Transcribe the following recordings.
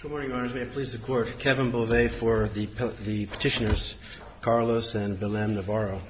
Good morning, Your Honors. May it please the Court. Kevin Bovet for the Petitioners, Carlos and Bilem Navarro.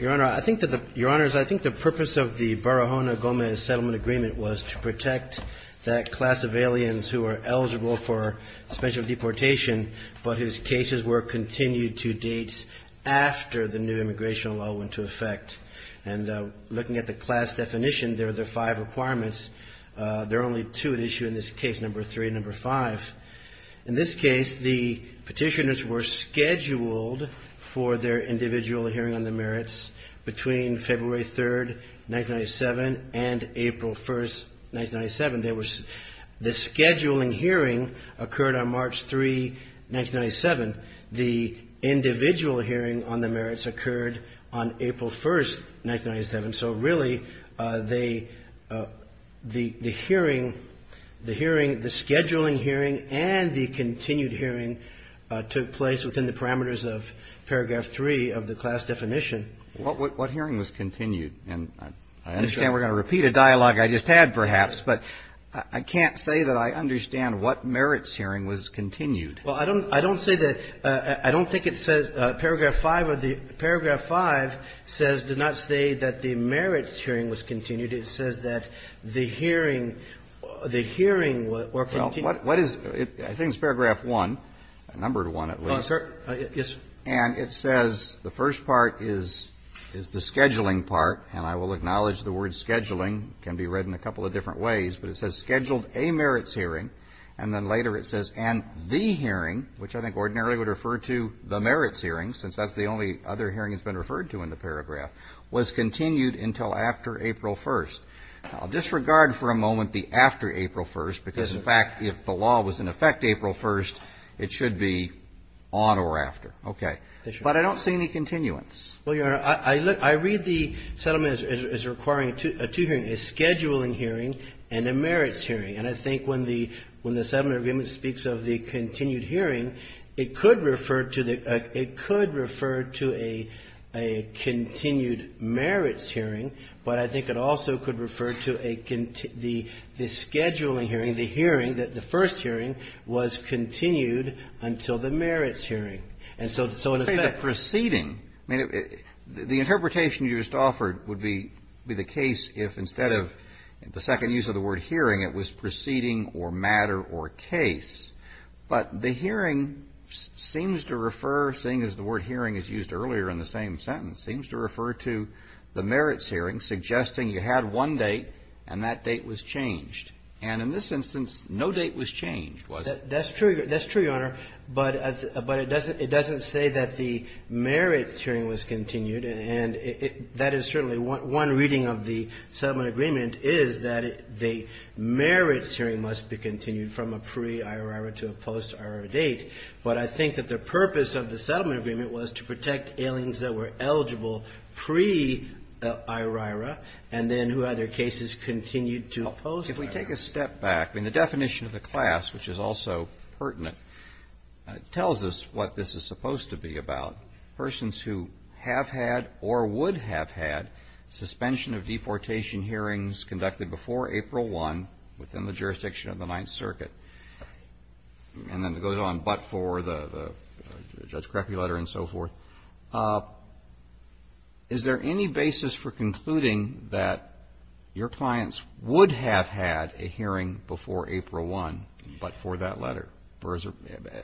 Your Honor, I think that the, Your Honors, I think the purpose of the Barahona-Gomez Settlement Agreement was to protect that class of aliens who are eligible for special deportation, but whose cases were continued to dates after the new immigration law went into effect. And looking at the class definition, there are five requirements. There are only two at issue in this case, number three and number five. In this case, the petitioners were scheduled for their individual hearing on the merits between February 3, 1997, and April 1, 1997. The scheduling hearing occurred on March 3, 1997. The individual hearing on the merits occurred on April 1, 1997. So really, the hearing, the scheduling hearing and the continued hearing took place within the parameters of paragraph three of the class definition. What hearing was continued? And I understand we're going to repeat a dialogue I just had, perhaps, but I can't say that I understand what merits hearing was continued. Well, I don't say that, I don't think it says paragraph five of the, paragraph five says, does not say that the merits hearing was continued. It says that the hearing, the hearing were continued. Well, what is, I think it's paragraph one, number one at least. Yes, sir. And it says, the first part is the scheduling part, and I will acknowledge the word scheduling can be read in a couple of different ways, but it says scheduled a merits hearing, and then later it says, and the hearing, which I think ordinarily would refer to the merits hearing, since that's the only other hearing that's been referred to in the paragraph, was continued until after April 1. I'll disregard for a moment the after April 1, because, in fact, if the law was in effect April 1, it should be on or after. Okay. But I don't see any continuance. Well, Your Honor, I read the settlement as requiring a two-hearing, a scheduling hearing and a merits hearing. And I think when the settlement agreement speaks of the continued hearing, it could refer to a continued merits hearing, but I think it also could refer to a the scheduling hearing, the hearing that the first hearing was continued until the merits hearing. And so in effect the preceding, I mean, the interpretation you just offered would be the case if instead of the second use of the word hearing, it was preceding or matter or case. But the hearing seems to refer, seeing as the word hearing is used earlier in the same sentence, seems to refer to the merits hearing, suggesting you had one date and that date was changed. And in this instance, no date was changed, was it? That's true. That's true, Your Honor. But it doesn't say that the merits hearing was continued. And that is certainly one reading of the settlement agreement is that the merits hearing must be continued from a pre-IRR to a post-IRR date. But I think that the purpose of the settlement agreement was to protect aliens that were eligible pre-IRR and then who either cases continued to post-IRR. If we take a step back, I mean, the definition of the class, which is also pertinent, tells us what this is supposed to be about. Persons who have had or would have had suspension of deportation hearings conducted before April 1 within the jurisdiction of the Judge Crockery letter and so forth. Is there any basis for concluding that your clients would have had a hearing before April 1 but for that letter?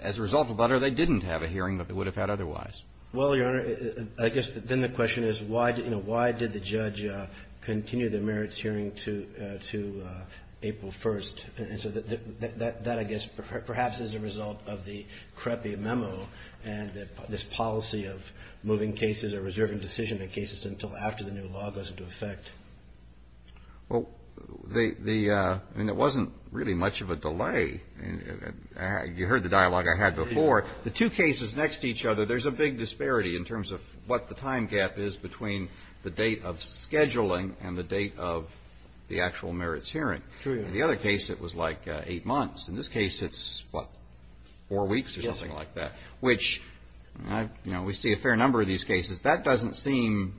As a result of the letter, they didn't have a hearing that they would have had otherwise. Well, Your Honor, I guess then the question is why did the judge continue the merits hearing to April 1st? And so that, I guess, perhaps is a result of the CREPI memo and this policy of moving cases or reserving decision in cases until after the new law goes into effect. Well, the, I mean, it wasn't really much of a delay. You heard the dialogue I had before. The two cases next to each other, there's a big disparity in terms of what the time gap is between the date of scheduling and the date of the actual merits hearing. True. In the other case, it was like eight months. In this case, it's, what, four weeks or something like that. Yes. Which, you know, we see a fair number of these cases. That doesn't seem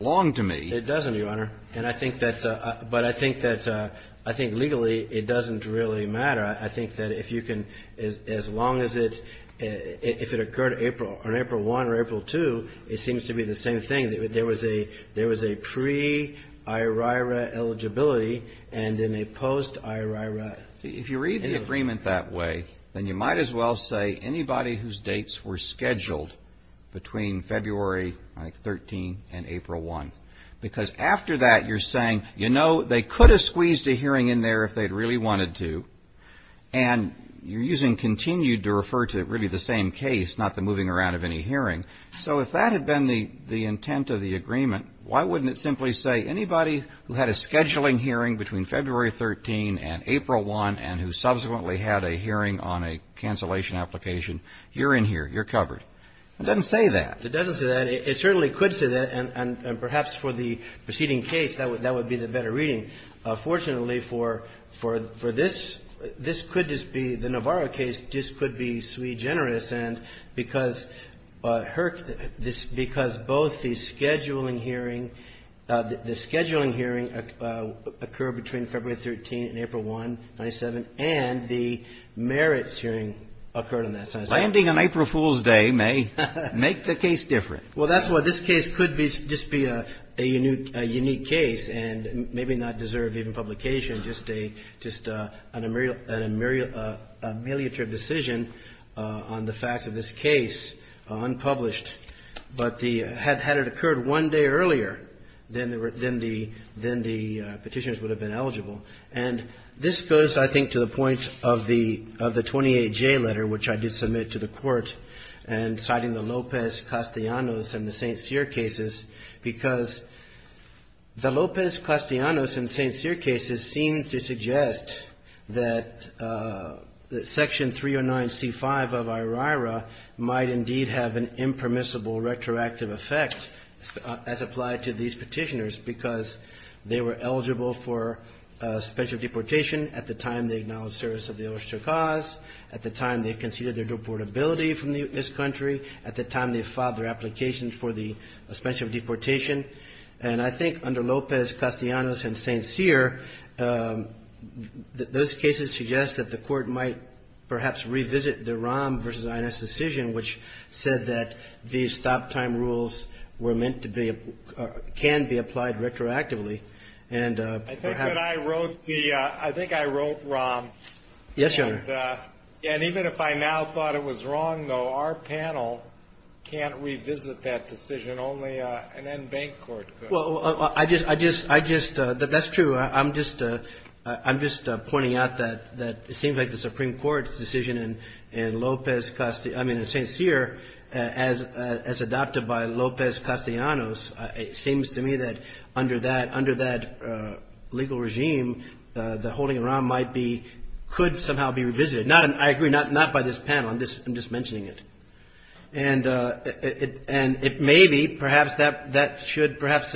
long to me. It doesn't, Your Honor. And I think that's a, but I think that's a, I think legally it doesn't really matter. I think that if you can, as long as it, if it occurred April, on April 1 or April 2, it seems to be the same thing. There was a pre-IRIRA eligibility and then a post-IRIRA. If you read the agreement that way, then you might as well say anybody whose dates were scheduled between February, I think, 13 and April 1. Because after that, you're saying, you know, they could have squeezed a hearing in there if they'd really wanted to. And you're using continued to refer to really the same case, not the moving around of any hearing. So if that had been the intent of the agreement, why wouldn't it simply say anybody who had a scheduling hearing between February 13 and April 1 and who subsequently had a hearing on a cancellation application, you're in here, you're covered? It doesn't say that. It doesn't say that. It certainly could say that. And perhaps for the preceding case, that would be the better reading. Fortunately, for this, this could just be, the Navarro case just could be sui generis. And because both the scheduling hearing, the scheduling hearing occurred between February 13 and April 1, 1997, and the merits hearing occurred on that same day. Landing on April Fool's Day may make the case different. Well, that's what this case could be, just be a unique case and maybe not deserve even publication, just an ameliorative decision on the facts of this case, unpublished. But had it occurred one day earlier, then the petitioners would have been eligible. And this goes, I think, to the point of the 28J letter, which I did submit to the court, and citing the Lopez-Castellanos and the St. Cyr cases, because the Lopez-Castellanos and St. Cyr cases seem to suggest that Section 309C5 of IORIRA might indeed have an impermissible retroactive effect, as applied to these petitioners, because they were eligible for special deportation at the time they acknowledged service of the Osh-Chukas, at the time they conceded their deportability from this country, at the time they filed their applications for the special deportation. And I think under Lopez-Castellanos and St. Cyr, those cases suggest that the court might perhaps revisit the Rahm v. Ines decision, which said that these stop-time rules were meant to be, can be applied retroactively, and perhaps... I think that I wrote the, I think I wrote Rahm. Yes, Your Honor. And even if I now thought it was wrong, though, our panel can't revisit that decision. Only an end-bank court could. Well, I just, that's true. I'm just pointing out that it seems like the Supreme Court's decision in Lopez-Castellanos, I mean, in St. Cyr, as adopted by Lopez-Castellanos, it seems to me that under that legal regime, the holding of Rahm might be, could somehow be revisited. I agree, not by this panel, I'm just mentioning it. And it may be, perhaps that should perhaps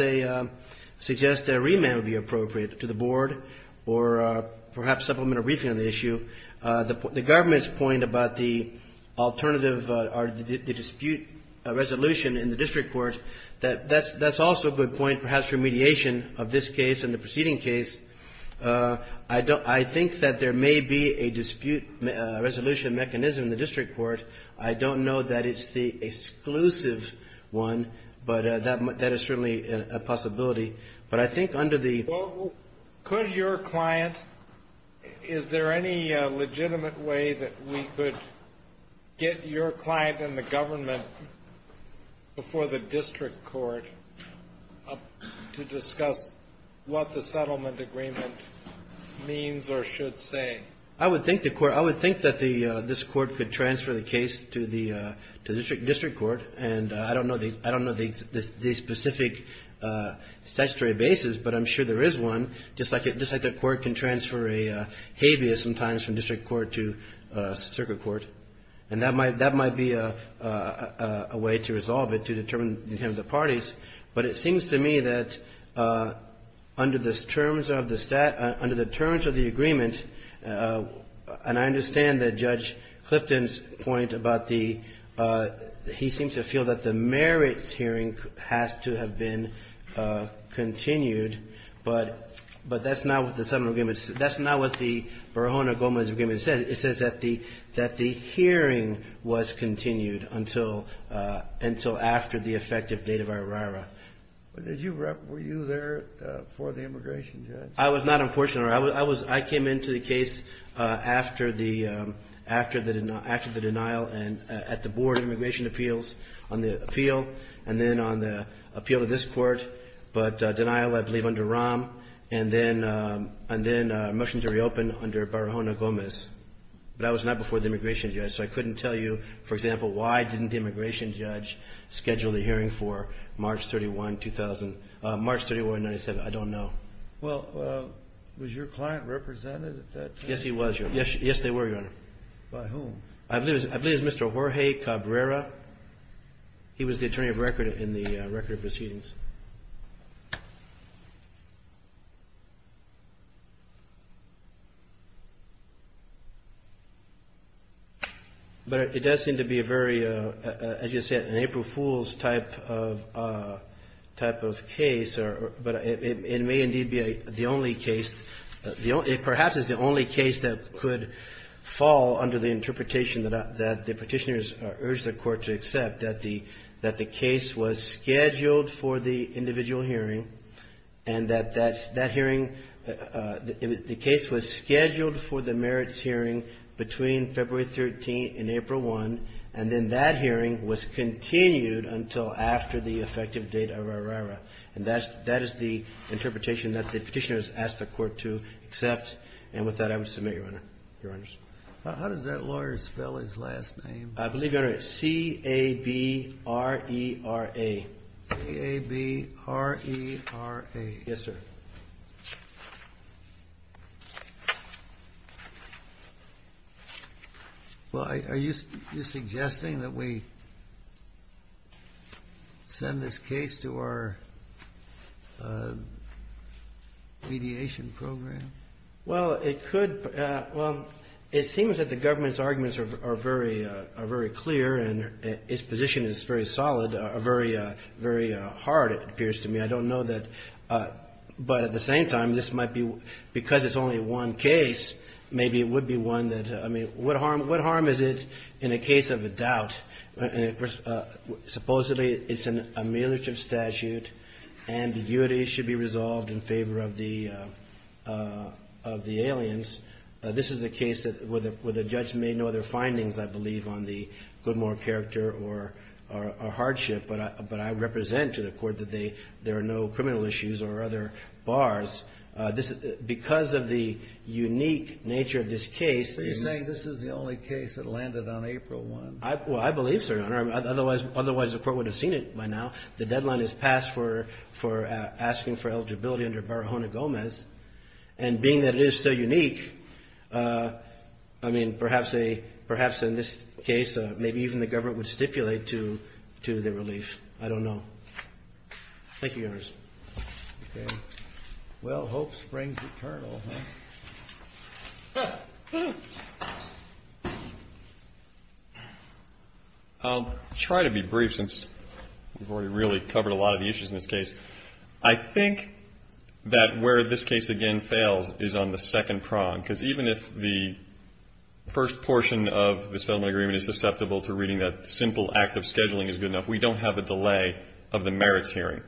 suggest that a remand would be appropriate to the board, or perhaps supplemental briefing on the issue. The government's point about the alternative, or the dispute resolution in the district court, that's also a good point, perhaps remediation of this case and the preceding case. I think that there may be a dispute resolution mechanism in the district court. I don't know that it's the exclusive one, but that is certainly a possibility. But I think under the... Well, could your client, is there any legitimate way that we could get your client and the government before the district court to discuss what the settlement agreement means or should say? I would think that this court could transfer the case to the district court, and I don't know the specific statutory basis, but I'm sure there is one, just like the court can transfer a habeas sometimes from district court to circuit court. And that might be a way to resolve it, to determine the parties. But it seems to me that under the terms of the agreement, and I understand that Judge Clifton's point about the he seems to feel that the merits hearing has to have been continued, but that's not what the settlement agreement says. It says that the hearing was continued until after the effective date of our RARA. Were you there for the immigration, Judge? I was not, unfortunately. I came into the case after the denial at the Board of Immigration Appeals on the appeal, and then on the appeal to this court, but denial, I believe, under Rahm, and then a motion to reopen under Barahona Gomez. But I was not before the immigration judge, so I couldn't tell you, for example, why didn't the immigration judge schedule the hearing for March 31, 2000? March 31, 1997, I don't know. Well, was your client represented at that time? Yes, he was, Your Honor. Yes, they were, Your Honor. By whom? I believe it was Mr. Jorge Cabrera. He was the attorney of record in the record of proceedings. But it does seem to be a very, as you said, an April Fool's type of case, but it may indeed be the only case that could fall under the interpretation that the Petitioners urged the Court to accept, that the case was scheduled for the individual hearing, and that that hearing, the case was scheduled for the merits hearing between February 13 and April 1, and then that hearing was continued until after the effective date of our RARA. And that is the interpretation that the Petitioners asked the Court to accept. And with that, I would submit, Your Honor, Your Honors. How does that lawyer spell his last name? I believe, Your Honor, it's C-A-B-R-E-R-A. C-A-B-R-E-R-A. Yes, sir. Well, are you suggesting that we send this case to our mediation program? Well, it could. Well, it seems that the government's arguments are very clear, and its position is very solid, or very hard, it appears to me. I don't know that, but at the same time, this might be, because it's only one case, maybe it would be one that, I mean, what harm is it in a case of a doubt? Supposedly, it's an ameliorative statute, and the duty should be resolved in favor of the aliens. This is a case where the judge made no other findings, I believe, on the Goodmore character or hardship but I represent to the court that there are no criminal issues or other bars. Because of the unique nature of this case. Are you saying this is the only case that landed on April 1? Well, I believe so, Your Honor. Otherwise, the court would have seen it by now. The deadline has passed for asking for eligibility under Barahona-Gomez, and being that it is so unique, I mean, perhaps in this case, maybe even the government would stipulate to the relief. I don't know. Thank you, Your Honor. I'll try to be brief, since we've already really covered a lot of the issues in this case. I think that where this case, again, fails is on the second prong. Because even if the first portion of the settlement agreement is susceptible to reading that simple act of scheduling is good enough, we don't have a delay of the merits hearing.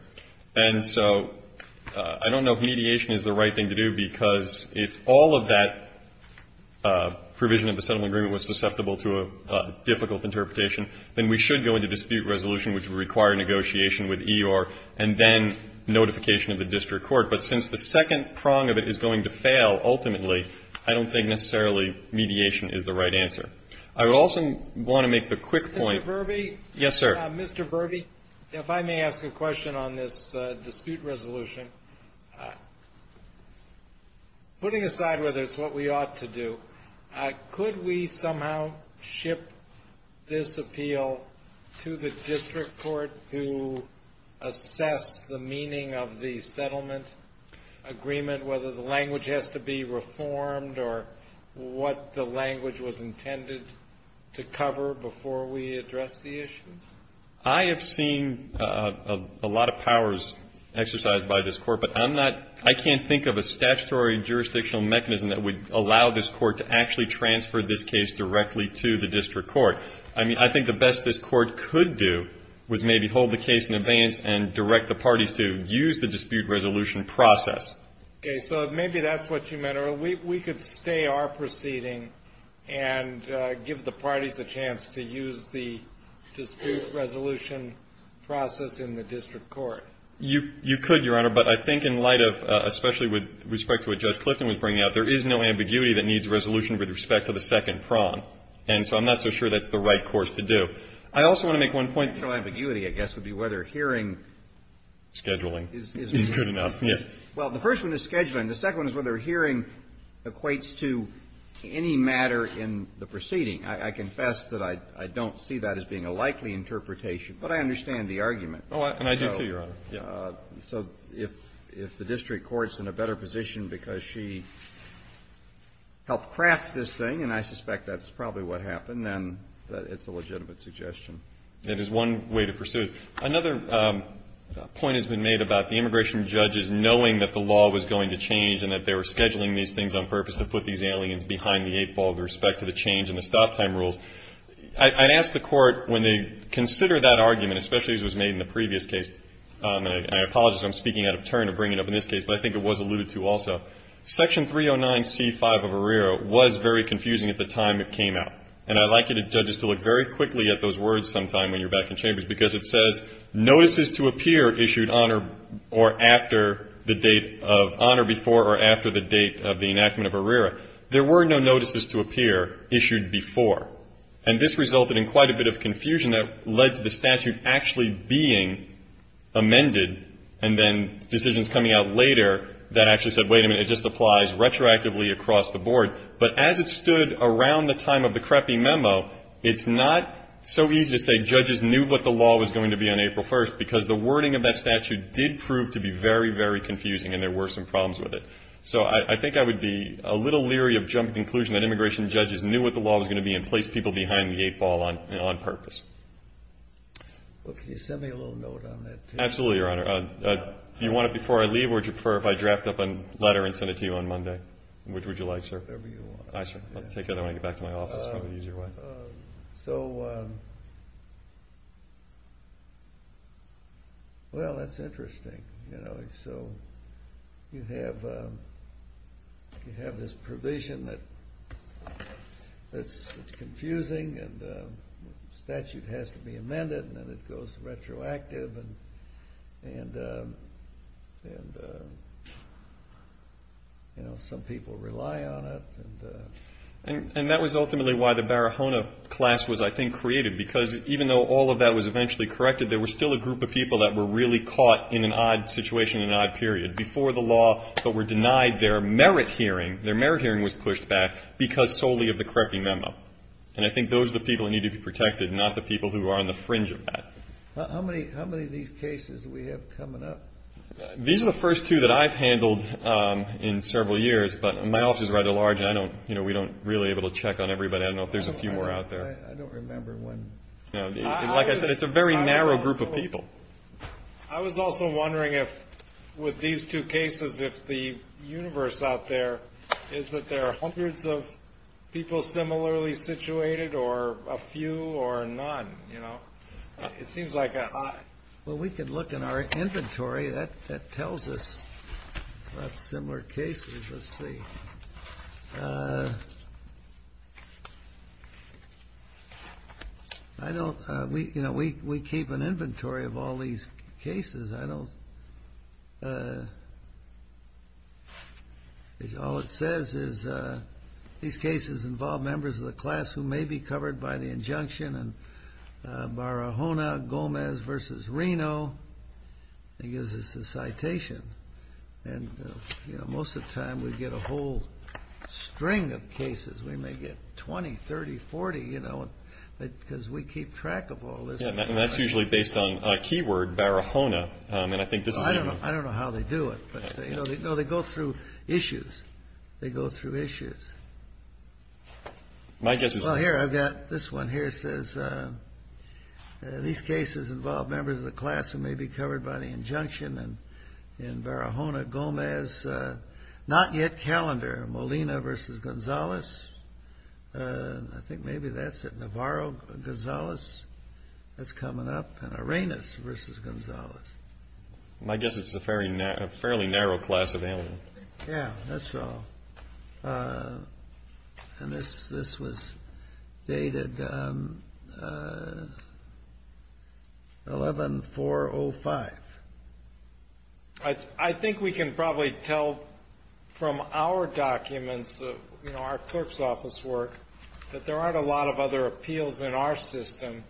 And so I don't know if mediation is the right thing to do, because if all of that provision of the settlement agreement was susceptible to a difficult interpretation, then we should go into dispute resolution, which would require negotiation with EOIR, and then notification of the district court. But since the second prong of it is going to fail, ultimately, I don't think necessarily mediation is the right answer. I also want to make the quick point. Mr. Verbe, if I may ask a question on this dispute resolution. Putting aside whether it's what we ought to do, could we somehow ship this appeal to the district court to assess the meaning of the settlement agreement, whether the language has to be reformed or what the language was intended to cover before we address the issues? I have seen a lot of powers exercised by this court, but I'm not — I can't think of a statutory jurisdictional mechanism that would allow this court to actually transfer this case directly to the district court. I mean, I think the best this court could do was maybe hold the case in abeyance and direct the parties to use the dispute resolution process. Okay. So maybe that's what you meant, or we could stay our proceeding and give the parties a chance to use the dispute resolution process in the district court. You could, Your Honor, but I think in light of — especially with respect to what Judge Clifton was bringing out, there is no ambiguity that needs resolution with respect to the second prong. And so I'm not so sure that's the right course to do. I also want to make one point. The ambiguity, I guess, would be whether hearing — Scheduling is good enough, yes. Well, the first one is scheduling. The second one is whether hearing equates to any matter in the proceeding. I confess that I don't see that as being a likely interpretation, but I understand the argument. And I do, too, Your Honor. So if the district court's in a better position because she helped craft this thing, and I suspect that's probably what happened, then it's a legitimate suggestion. That is one way to pursue it. Another point has been made about the immigration judges knowing that the law was going to change and that they were scheduling these things on purpose to put these aliens behind the eight ball with respect to the change in the stop-time rules. I'd ask the Court, when they consider that argument, especially as was made in the previous case, and I apologize, I'm speaking out of turn to bring it up in this case, but I think it was alluded to also. Section 309c5 of ARERA was very confusing at the time it came out. And I'd like you, the judges, to look very quickly at those words sometime when you're back in chambers, because it says, Notices to appear issued on or after the date of — on or before or after the date of the enactment of ARERA. There were no notices to appear issued before. And this resulted in quite a bit of confusion that led to the statute actually being amended and then decisions coming out later that actually said, wait a minute, it just applies retroactively across the board. But as it stood around the time of the creppy memo, it's not so easy to say judges knew what the law was going to be on April 1st, because the wording of that statute did prove to be very, very confusing and there were some problems with it. So I think I would be a little leery of jumping to the conclusion that immigration judges knew what the law was going to be and placed people behind the eight ball on purpose. Well, can you send me a little note on that, too? Absolutely, Your Honor. Do you want it before I leave, or would you prefer if I draft up a letter and send it to you on Monday? Which would you like, sir? Whatever you want. Aye, sir. I'll take that when I get back to my office. It's probably an easier way. So, well, that's interesting. So you have this provision that's confusing and the statute has to be amended and then it goes retroactive and some people rely on it. And that was ultimately why the Barahona class was, I think, created, because even though all of that was eventually corrected, there was still a group of people that were really caught in an odd situation in an odd period, before the law, but were denied their merit hearing. Their merit hearing was pushed back because solely of the corrective memo. And I think those are the people that need to be protected, not the people who are on the fringe of that. How many of these cases do we have coming up? These are the first two that I've handled in several years, but my office is rather large and we don't really able to check on everybody. I don't know if there's a few more out there. I don't remember one. Like I said, it's a very narrow group of people. I was also wondering if, with these two cases, if the universe out there is that there are hundreds of people similarly situated or a few or none, you know? It seems like a high. Well, we could look in our inventory. That tells us about similar cases. Let's see. I don't, you know, we keep an inventory of all these cases. I don't, all it says is these cases involve members of the class who may be covered by the injunction and Barahona, Gomez versus Reno. It gives us a citation. And, you know, most of the time we get a whole string of cases. We may get 20, 30, 40, you know, because we keep track of all this. And that's usually based on a keyword, Barahona. And I think this is maybe. I don't know how they do it, but, you know, they go through issues. They go through issues. My guess is. Well, here, I've got this one here. It says these cases involve members of the class who may be covered by the injunction and Barahona, Gomez, not yet calendar, Molina versus Gonzalez. I think maybe that's it. Navarro, Gonzalez. That's coming up. And Arenas versus Gonzalez. My guess is it's a fairly narrow class of aliens. Yeah, that's all. And this was dated 11-4-05. I think we can probably tell from our documents, you know, our clerk's office work, that there aren't a lot of other appeals in our system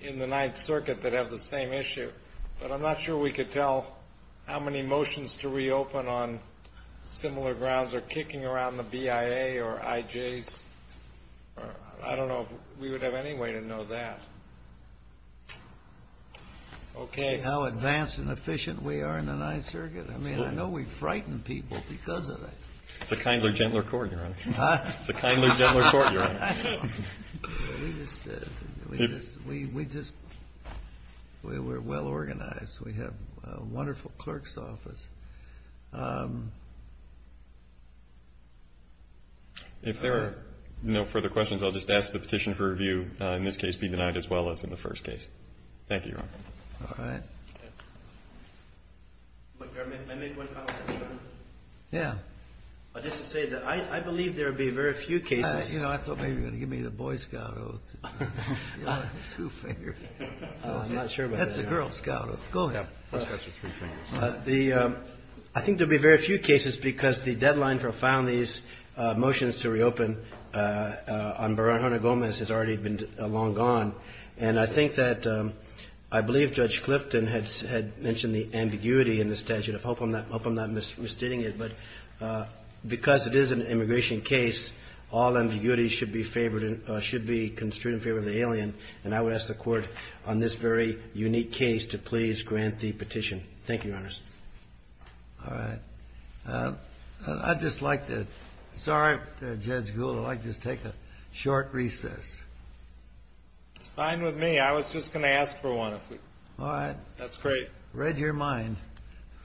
in the Ninth Circuit that have the same issue. But I'm not sure we could tell how many motions to reopen on similar grounds are kicking around the BIA or IJs. I don't know if we would have any way to know that. Okay. See how advanced and efficient we are in the Ninth Circuit? I mean, I know we frighten people because of that. It's a kinder, gentler court, Your Honor. It's a kinder, gentler court, Your Honor. We just, we're well organized. We have a wonderful clerk's office. If there are no further questions, I'll just ask the petition for review, in this case, be denied as well as in the first case. Thank you, Your Honor. All right. May I make one comment, Your Honor? Yeah. Just to say that I believe there will be very few cases. You know, I thought maybe you were going to give me the Boy Scout oath. Two-finger. I'm not sure about that. That's the Girl Scout oath. Go ahead. I think there will be very few cases because the deadline for filing these motions to reopen on Baranjona-Gomez has already been long gone. And I think that I believe Judge Clifton had mentioned the ambiguity in the statute. I hope I'm not misstating it. But because it is an immigration case, all ambiguity should be favored, should be construed in favor of the alien. And I would ask the court on this very unique case to please grant the petition. Thank you, Your Honor. All right. I'd just like to, sorry, Judge Gould, I'd like to just take a short recess. It's fine with me. I was just going to ask for one. All right. That's great. Read your mind.